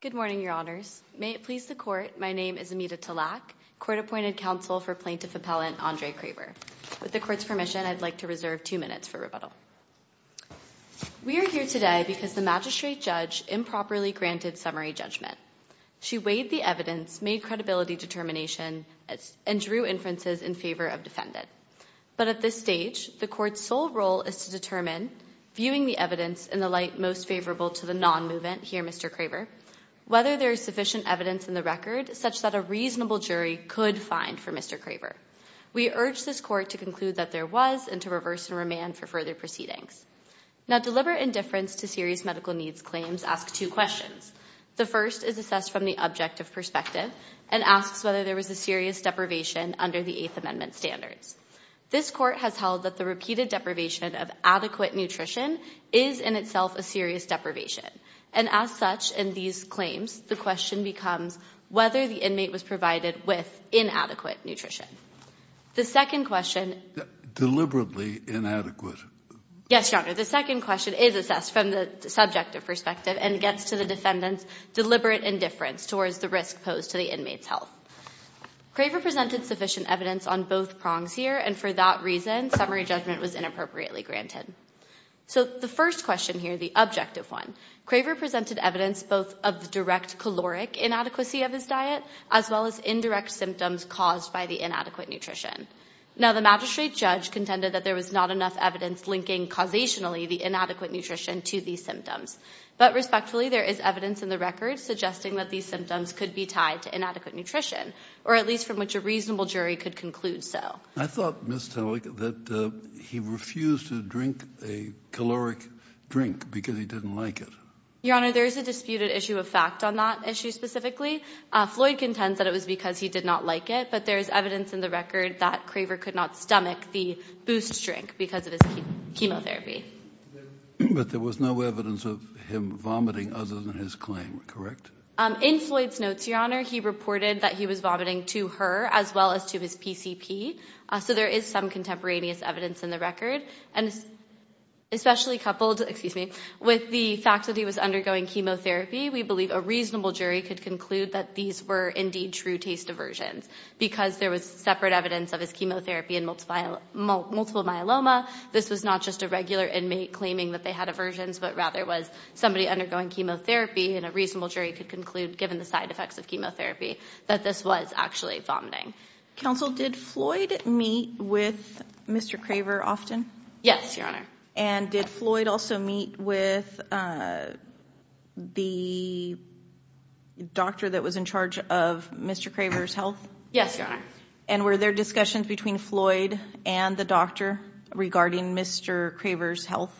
Good morning, Your Honors. May it please the Court, my name is Amita Talak, Court-Appointed Counsel for Plaintiff Appellant Andre Craver. With the Court's permission, I'd like to reserve two minutes for rebuttal. We are here today because the Magistrate Judge improperly granted summary judgment. She weighed the evidence, made credibility determination, and drew inferences in favor of defendant. But at this stage, the Court's sole role is to determine, viewing the evidence in the light most favorable to the non-movement here, Mr. Craver, whether there is sufficient evidence in the record such that a reasonable jury could find for Mr. Craver. We urge this Court to conclude that there was and to reverse and remand for further proceedings. Now, deliberate indifference to serious medical needs claims ask two questions. The first is assessed from the objective perspective and asks whether there was a serious deprivation under the Eighth Amendment standards. This Court has held that the repeated deprivation of adequate nutrition is in itself a serious deprivation. And as such, in these claims, the question becomes whether the inmate was provided with inadequate nutrition. The second question— Deliberately inadequate. —Yes, Your Honor. The second question is assessed from the subjective perspective and gets to the defendant's deliberate indifference towards the risk posed to the inmate's health. Craver presented sufficient evidence on both prongs here, and for that reason, summary judgment was inappropriately granted. So the first question here, the objective one, Craver presented evidence both of the direct caloric inadequacy of his diet, as well as indirect symptoms caused by the inadequate nutrition. Now, the magistrate judge contended that there was not enough evidence linking causationally the inadequate nutrition to these symptoms. But respectfully, there is evidence in the record suggesting that these symptoms could be tied to inadequate nutrition, or at least from which a reasonable jury could conclude so. I thought, Ms. Tellick, that he refused to drink a caloric drink because he didn't like it. Your Honor, there is a disputed issue of fact on that issue specifically. Floyd contends that it was because he did not like it, but there is evidence in the record that Craver could not stomach the Boost drink because of his chemotherapy. But there was no evidence of him vomiting other than his claim, correct? In Floyd's notes, Your Honor, he reported that he was vomiting to her as well as to his PCP. So there is some contemporaneous evidence in the record. And especially coupled, excuse me, with the fact that he was undergoing chemotherapy, we believe a reasonable jury could conclude that these were indeed true taste aversions because there was separate evidence of his chemotherapy and multiple myeloma. This was not just a regular inmate claiming that they had aversions, but rather it was somebody undergoing chemotherapy. And a reasonable jury could conclude, given the side effects of chemotherapy, that this was actually vomiting. Counsel, did Floyd meet with Mr. Craver often? Yes, Your Honor. And did Floyd also meet with the doctor that was in charge of Mr. Craver's health? Yes, Your Honor. And were there discussions between Floyd and the doctor regarding Mr. Craver's health?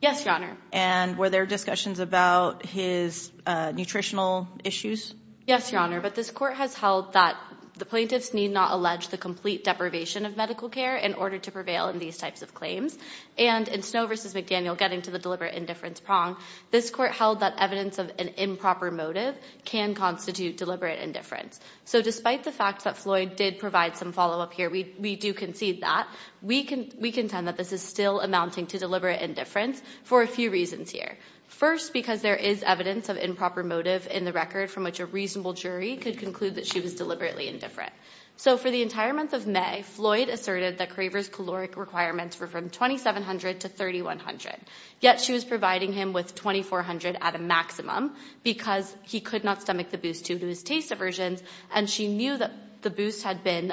Yes, Your Honor. And were there discussions about his nutritional issues? Yes, Your Honor. But this court has held that the plaintiffs need not allege the complete deprivation of medical care in order to prevail in these types of claims. And in Snow v. McDaniel, getting to the deliberate indifference prong, this court held that evidence of an improper motive can constitute deliberate indifference. So despite the fact that Floyd did provide some follow-up here, we do concede that. We contend that this is still amounting to deliberate indifference for a few reasons here. First, because there is evidence of improper motive in the record, from which a reasonable jury could conclude that she was deliberately indifferent. So for the entire month of May, Floyd asserted that Craver's caloric requirements were from 2,700 to 3,100. Yet she was providing him with 2,400 at a maximum, because he could not stomach the boost due to his taste aversions, and she knew that the boost had been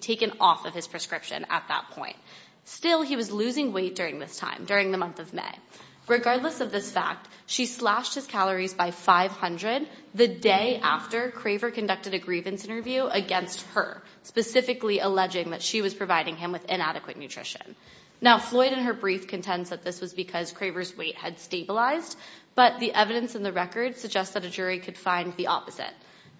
taken off of his prescription at that point. Still, he was losing weight during this time, during the month of May. Regardless of this fact, she slashed his calories by 500 the day after Craver conducted a grievance interview against her, specifically alleging that she was providing him with inadequate nutrition. Now, Floyd in her brief contends that this was because Craver's weight had stabilized, but the evidence in the record suggests that a jury could find the opposite.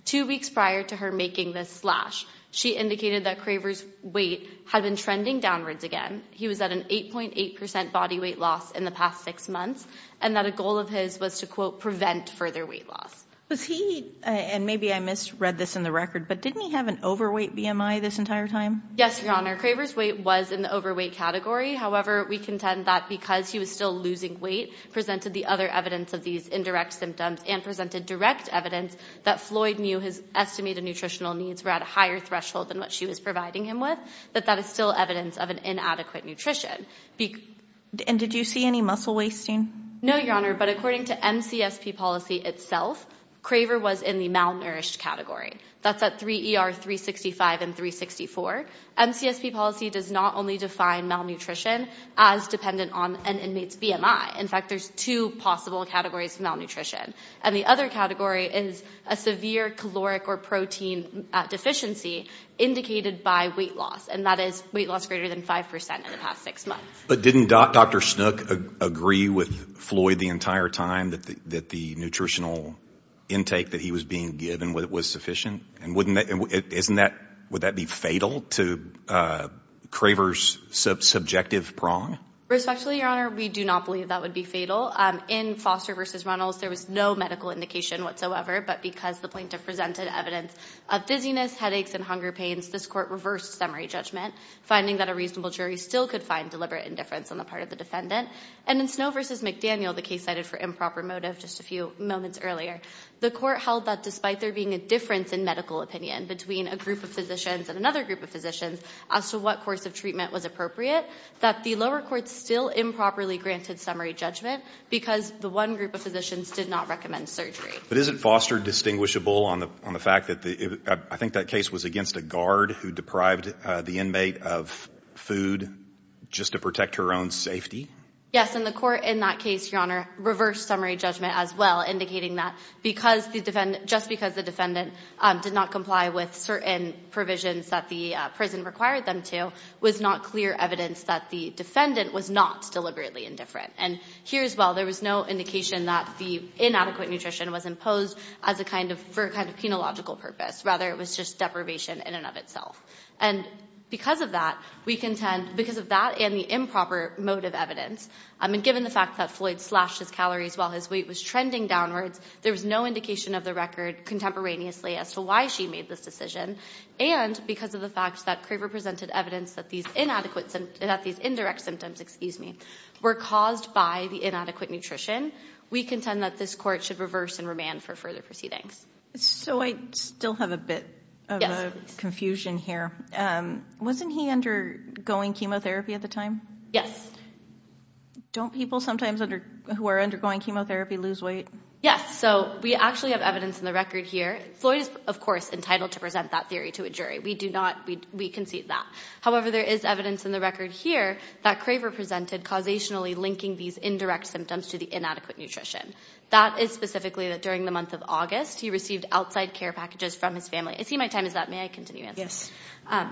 Two weeks prior to her making this slash, she indicated that Craver's weight had been trending downwards again. He was at an 8.8% body weight loss in the past six months, and that a goal of his was to, quote, prevent further weight loss. Was he, and maybe I misread this in the record, but didn't he have an overweight BMI this entire time? Yes, Your Honor. Craver's weight was in the overweight category. However, we contend that because he was still losing weight, presented the other evidence of these indirect symptoms, and presented direct evidence that Floyd knew his estimated nutritional needs were at a higher threshold than what she was providing him with, that that is still evidence of an inadequate nutrition. And did you see any muscle wasting? No, Your Honor, but according to MCSP policy itself, Craver was in the malnourished category. That's at 3 ER 365 and 364. MCSP policy does not only define malnutrition as dependent on an inmate's BMI. In fact, there's two possible categories of malnutrition. And the other category is a severe caloric or protein deficiency indicated by weight loss. And that is weight loss greater than 5% in the past six months. But didn't Dr. Snook agree with Floyd the entire time that the nutritional intake that he was being given was sufficient? And wouldn't that, wouldn't that be fatal to Craver's subjective prong? Respectfully, Your Honor, we do not believe that would be fatal. In Foster versus Reynolds, there was no medical indication whatsoever. But because the plaintiff presented evidence of dizziness, headaches, and hunger pains, this court reversed summary judgment, finding that a reasonable jury still could find deliberate indifference on the part of the defendant. And in Snow versus McDaniel, the case cited for improper motive just a few moments earlier, the court held that despite there being a difference in medical opinion between a group of physicians and another group of physicians as to what course of treatment was appropriate, that the lower court still improperly granted summary judgment because the one group of physicians did not recommend surgery. But isn't Foster distinguishable on the fact that the, I think that case was against a guard who deprived the inmate of food just to protect her own safety? And the court in that case, Your Honor, reversed summary judgment as well, indicating that because the defendant, just because the defendant did not comply with certain provisions that the prison required them to, was not clear evidence that the defendant was not deliberately indifferent. And here as well, there was no indication that the inadequate nutrition was imposed as a kind of, for a kind of penological purpose. Rather, it was just deprivation in and of itself. And because of that, we contend, because of that and the improper motive evidence, I mean, given the fact that Floyd slashed his calories while his weight was trending downwards, there was no indication of the record contemporaneously as to why she made this decision. And because of the fact that Craver presented evidence that these inadequate, that these indirect symptoms, excuse me, were caused by the inadequate nutrition, we contend that this court should reverse and remand for further proceedings. So I still have a bit of a confusion here. Wasn't he undergoing chemotherapy at the time? Yes. Don't people sometimes who are undergoing chemotherapy lose weight? Yes. So we actually have evidence in the record here. Floyd is, of course, entitled to present that theory to a jury. We do not, we concede that. However, there is evidence in the record here that Craver presented causationally linking these indirect symptoms to the inadequate nutrition. That is specifically that during the month of August, he received outside care packages from his family. I see my time is up. May I continue? Yes.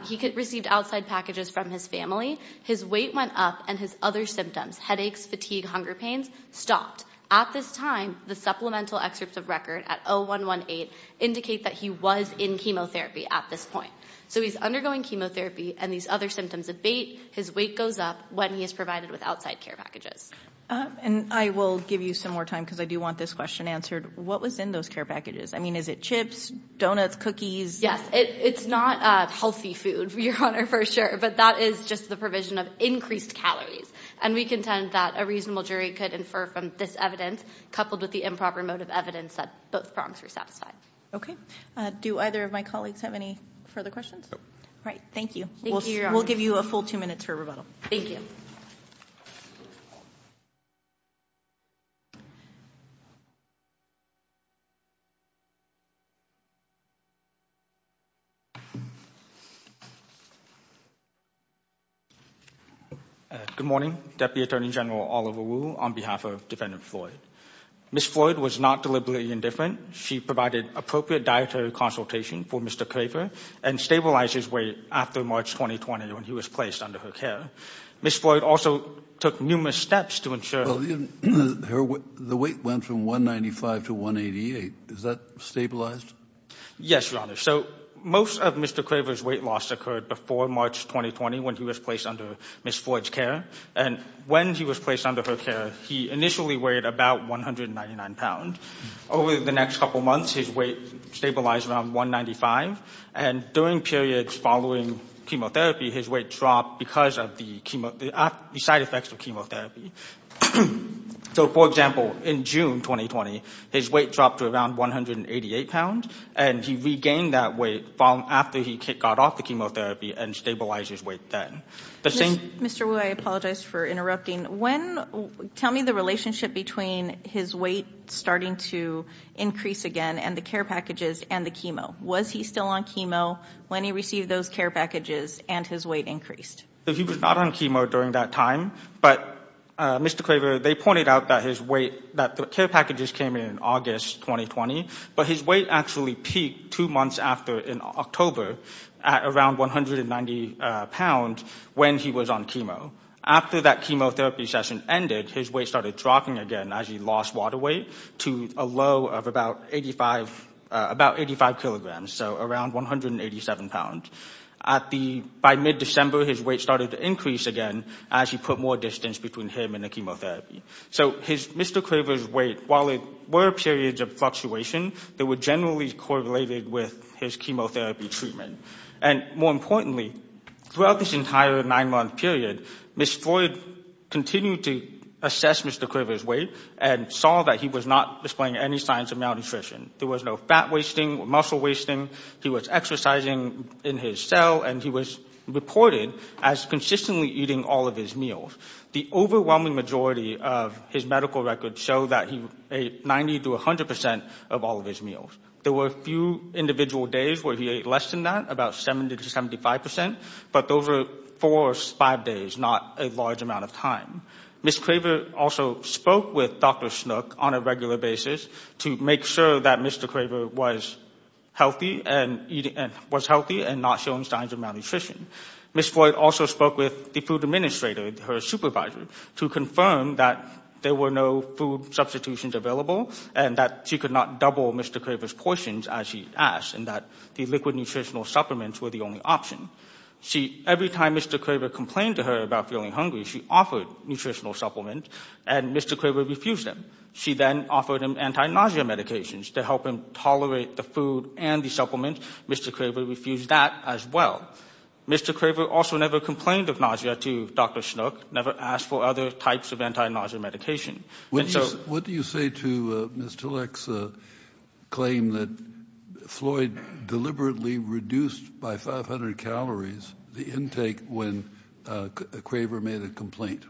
He received outside packages from his family. His weight went up and his other symptoms, headaches, fatigue, hunger pains, stopped. At this time, the supplemental excerpts of record at 0118 indicate that he was in chemotherapy at this point. So he's undergoing chemotherapy and these other symptoms abate. His weight goes up when he is provided with outside care packages. And I will give you some more time because I do want this question answered. What was in those care packages? I mean, is it chips, donuts, cookies? Yes. It's not healthy food, Your Honor, for sure. But that is just the provision of increased calories. And we contend that a reasonable jury could infer from this evidence coupled with the improper mode of evidence that both prongs were satisfied. Okay. Do either of my colleagues have any further questions? All right. Thank you. Thank you, Your Honor. We'll give you a full two minutes for rebuttal. Thank you. Good morning. Deputy Attorney General Oliver Wu on behalf of Defendant Floyd. Ms. Floyd was not deliberately indifferent. She provided appropriate dietary consultation for Mr. Craver and stabilized his weight after March 2020 when he was placed under her care. Ms. Floyd also took numerous steps to ensure... The weight went from 195 to 188. Is that stabilized? Yes, Your Honor. So most of Mr. Craver's weight loss occurred before March 2020 when he was placed under Ms. Floyd's care. And when he was placed under her care, he initially weighed about 199 pounds. Over the next couple of months, his weight stabilized around 195. And during periods following chemotherapy, his weight dropped because of the side effects of chemotherapy. So, for example, in June 2020, his weight dropped to around 188 pounds. And he regained that weight after he got off the chemotherapy and stabilized his weight then. Mr. Wu, I apologize for interrupting. Tell me the relationship between his weight starting to increase again and the care packages and the chemo. Was he still on chemo when he received those care packages and his weight increased? He was not on chemo during that time. But, Mr. Craver, they pointed out that his weight... that the care packages came in August 2020. But his weight actually peaked two months after in October at around 190 pounds when he was on chemo. After that chemotherapy session ended, his weight started dropping again as he lost water weight to a low of about 85 kilograms, so around 187 pounds. By mid-December, his weight started to increase again as he put more distance between him and the chemotherapy. So Mr. Craver's weight, while it were periods of fluctuation, they were generally correlated with his chemotherapy treatment. And more importantly, throughout this entire nine-month period, Ms. Floyd continued to assess Mr. Craver's weight and saw that he was not displaying any signs of malnutrition. There was no fat wasting or muscle wasting. He was exercising in his cell, and he was reported as consistently eating all of his meals. The overwhelming majority of his medical records show that he ate 90 to 100 percent of all of his meals. There were a few individual days where he ate less than that, about 70 to 75 percent. But those were four or five days, not a large amount of time. Ms. Craver also spoke with Dr. Snook on a regular basis to make sure that Mr. Craver was healthy and not showing signs of malnutrition. Ms. Floyd also spoke with the food administrator, her supervisor, to confirm that there were no food substitutions available and that she could not double Mr. Craver's portions as she asked and that the liquid nutritional supplements were the only option. Every time Mr. Craver complained to her about feeling hungry, she offered nutritional supplements and Mr. Craver refused them. She then offered him anti-nausea medications to help him tolerate the food and the supplements. Mr. Craver refused that as well. Mr. Craver also never complained of nausea to Dr. Snook, never asked for other types of anti-nausea medication. What do you say to Ms. Tillich's claim that Floyd deliberately reduced by 500 calories the intake when Craver made a complaint?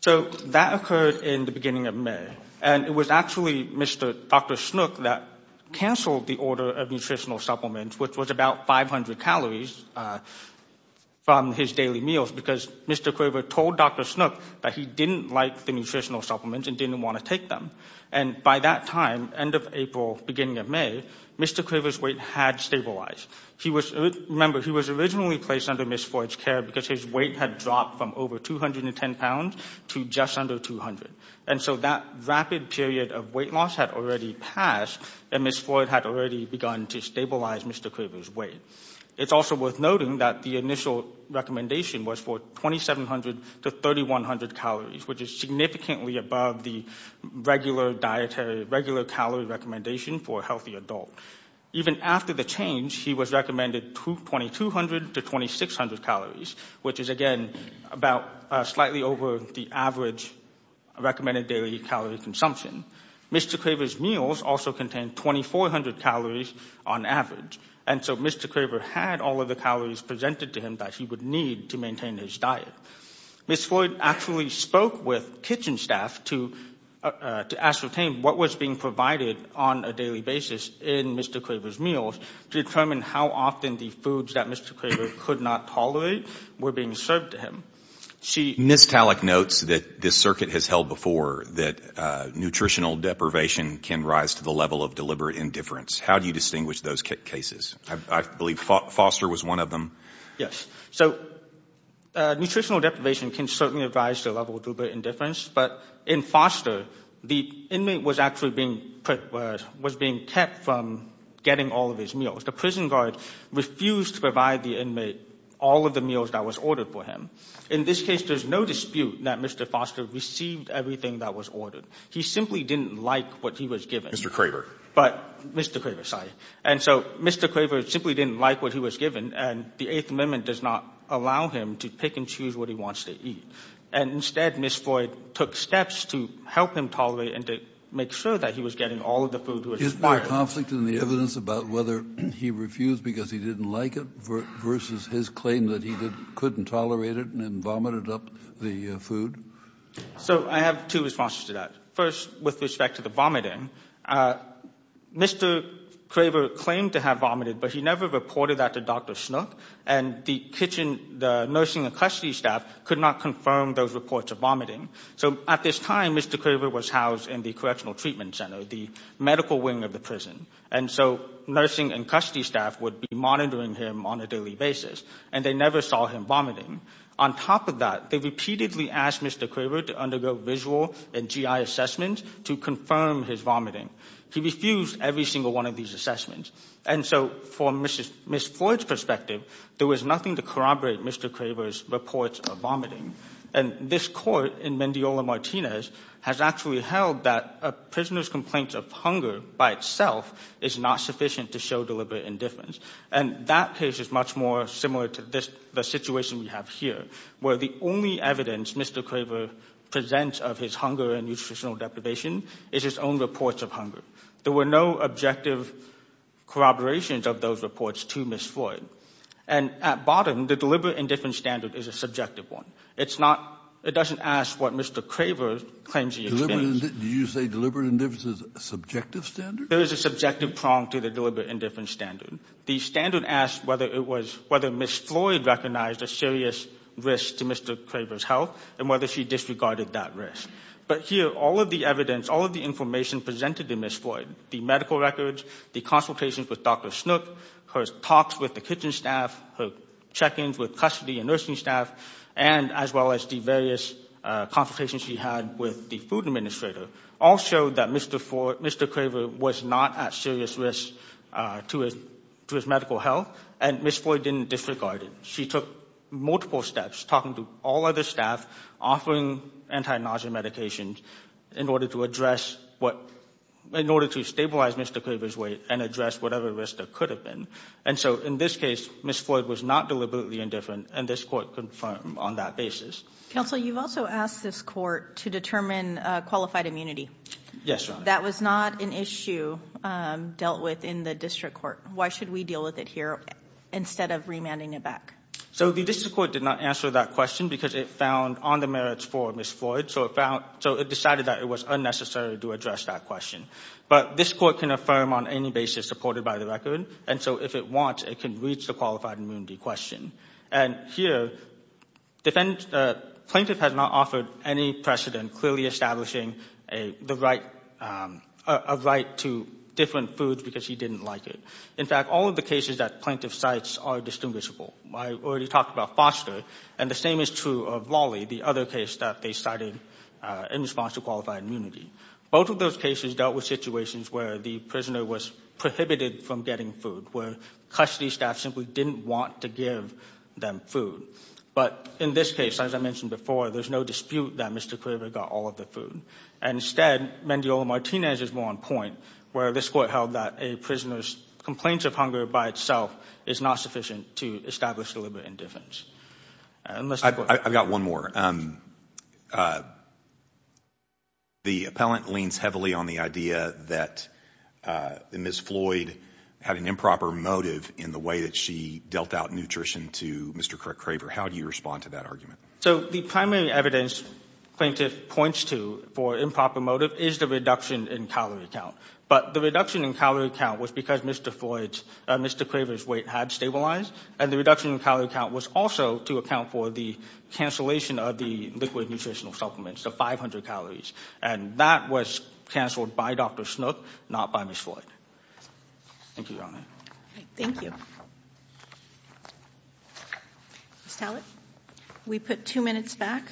So that occurred in the beginning of May. And it was actually Dr. Snook that cancelled the order of nutritional supplements, which was about 500 calories from his daily meals, because Mr. Craver told Dr. Snook that he didn't like the nutritional supplements and didn't want to take them. And by that time, end of April, beginning of May, Mr. Craver's weight had stabilized. He was, remember, he was originally placed under Ms. Floyd's care because his weight had dropped from over 210 pounds to just under 200. And so that rapid period of weight loss had already passed and Ms. Floyd had already begun to stabilize Mr. Craver's weight. It's also worth noting that the initial recommendation was for 2,700 to 3,100 calories, which is significantly above the regular calorie recommendation for a healthy adult. Even after the change, he was recommended 2,200 to 2,600 calories, which is, again, about slightly over the average recommended daily calorie consumption. Mr. Craver's meals also contained 2,400 calories on average. And so Mr. Craver had all of the calories presented to him that he would need to maintain his diet. Ms. Floyd actually spoke with kitchen staff to ascertain what was being provided on a daily basis in Mr. Craver's meals to determine how often the foods that Mr. Craver could not tolerate were being served to him. Ms. Talek notes that this circuit has held before that nutritional deprivation can rise to the level of deliberate indifference. How do you distinguish those cases? I believe Foster was one of them. Yes. So nutritional deprivation can certainly rise to the level of deliberate indifference. But in Foster, the inmate was actually being kept from getting all of his meals. The prison guard refused to provide the inmate all of the meals that was ordered for him. In this case, there's no dispute that Mr. Foster received everything that was ordered. He simply didn't like what he was given. Mr. Craver. But Mr. Craver, sorry. And so Mr. Craver simply didn't like what he was given. And the Eighth Amendment does not allow him to pick and choose what he wants to eat. And instead, Ms. Floyd took steps to help him tolerate and to make sure that he was getting all of the food Is there a conflict in the evidence about whether he refused because he didn't like it versus his claim that he couldn't tolerate it and vomited up the food? So I have two responses to that. First, with respect to the vomiting. Mr. Craver claimed to have vomited, but he never reported that to Dr. Schnook. And the kitchen, the nursing and custody staff could not confirm those reports of vomiting. So at this time, Mr. Craver was housed in the Correctional Treatment Center. The medical wing of the prison. And so nursing and custody staff would be monitoring him on a daily basis. And they never saw him vomiting. On top of that, they repeatedly asked Mr. Craver to undergo visual and GI assessments to confirm his vomiting. He refused every single one of these assessments. And so for Ms. Floyd's perspective, there was nothing to corroborate Mr. Craver's reports of vomiting. And this court in Mendiola Martinez has actually held that a prisoner's complaint of hunger by itself is not sufficient to show deliberate indifference. And that case is much more similar to the situation we have here, where the only evidence Mr. Craver presents of his hunger and nutritional deprivation is his own reports of hunger. There were no objective corroborations of those reports to Ms. Floyd. And at bottom, the deliberate indifference standard is a subjective one. It doesn't ask what Mr. Craver claims he experienced. Did you say deliberate indifference is a subjective standard? There is a subjective prong to the deliberate indifference standard. The standard asked whether Ms. Floyd recognized a serious risk to Mr. Craver's health and whether she disregarded that risk. But here, all of the evidence, all of the information presented to Ms. Floyd, the medical records, the consultations with Dr. Snook, her talks with the kitchen staff, her check-ins with custody and nursing staff, and as well as the various consultations she had with the food administrator, all showed that Mr. Craver was not at serious risk to his medical health and Ms. Floyd didn't disregard it. She took multiple steps, talking to all other staff, offering anti-nausea medications in order to stabilize Mr. Craver's weight and address whatever risk there could have been. And so in this case, Ms. Floyd was not deliberately indifferent and this court confirmed on that basis. Counsel, you've also asked this court to determine qualified immunity. Yes, Your Honor. That was not an issue dealt with in the district court. Why should we deal with it here instead of remanding it back? So the district court did not answer that question because it found on the merits for Ms. Floyd. So it decided that it was unnecessary to address that question. But this court can affirm on any basis supported by the record. And so if it wants, it can reach the qualified immunity question. And here, plaintiff has not offered any precedent clearly establishing a right to different foods because he didn't like it. In fact, all of the cases that plaintiff cites are distinguishable. I already talked about Foster and the same is true of Lolly, the other case that they cited in response to qualified immunity. Both of those cases dealt with situations where the prisoner was prohibited from getting food, where custody staff simply didn't want to give them food. But in this case, as I mentioned before, there's no dispute that Mr. Quiver got all of the food. And instead, Mendiola-Martinez is more on point where this court held that a prisoner's complaints of hunger by itself is not sufficient to establish deliberate indifference. I've got one more. The appellant leans heavily on the idea that Ms. Floyd had an improper motive in the way that she dealt out nutrition to Mr. Craig Craver. How do you respond to that argument? So the primary evidence plaintiff points to for improper motive is the reduction in calorie count. But the reduction in calorie count was because Mr. Craver's weight had stabilized and the reduction in calorie count was also to account for the cancellation of the liquid nutritional supplements, the 500 calories. And that was canceled by Dr. Snook, not by Ms. Floyd. Thank you, Your Honor. Thank you. Ms. Talbot, we put two minutes back.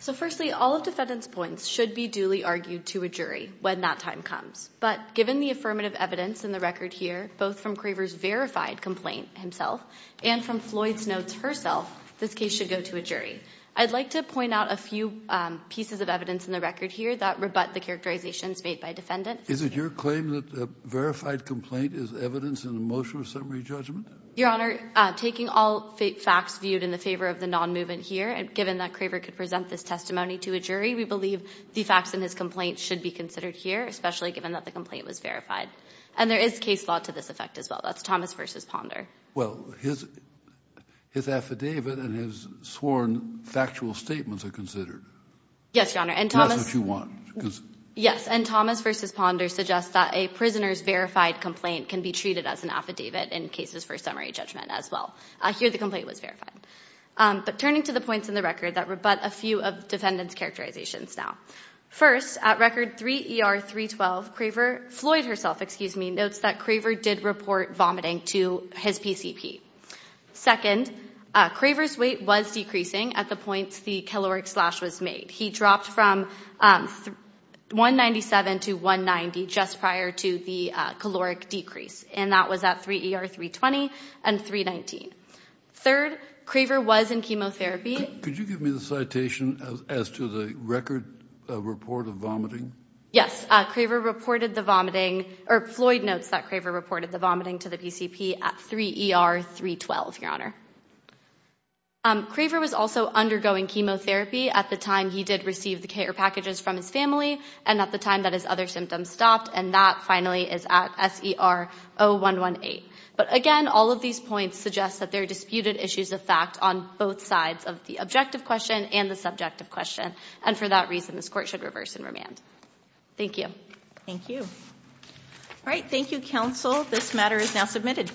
So firstly, all of defendant's points should be duly argued to a jury when that time comes. But given the affirmative evidence in the record here, both from Craver's verified complaint himself and from Floyd's notes herself, this case should go to a jury. I'd like to point out a few pieces of evidence in the record here that rebut the characterizations made by defendant. Is it your claim that a verified complaint is evidence in a motion of summary judgment? Your Honor, taking all facts viewed in the favor of the non-movement here, given that Craver could present this testimony to a jury, we believe the facts in his complaint should be considered here, especially given that the complaint was verified. And there is case law to this effect as well. That's Thomas versus Ponder. Well, his affidavit and his sworn factual statements are considered. Yes, Your Honor. And Thomas... Yes, if you want. Yes, and Thomas versus Ponder suggests that a prisoner's verified complaint can be treated as an affidavit in cases for summary judgment as well. Here, the complaint was verified. But turning to the points in the record that rebut a few of defendant's characterizations now. First, at record 3 ER 312, Craver, Floyd herself, excuse me, notes that Craver did report vomiting to his PCP. Second, Craver's weight was decreasing at the points the caloric slash was made. He dropped from 197 to 190 just prior to the caloric decrease. And that was at 3 ER 320 and 319. Third, Craver was in chemotherapy. Could you give me the citation as to the record report of vomiting? Yes, Craver reported the vomiting, or Floyd notes that Craver reported the vomiting to the PCP at 3 ER 312, Your Honor. Craver was also undergoing chemotherapy at the time he did receive the care packages from his family and at the time that his other symptoms stopped. And that finally is at SER 0118. But again, all of these points suggest that there are disputed issues of fact on both sides of the objective question and the subjective question. And for that reason, this court should reverse and remand. Thank you. Thank you. All right, thank you, counsel. This matter is now submitted.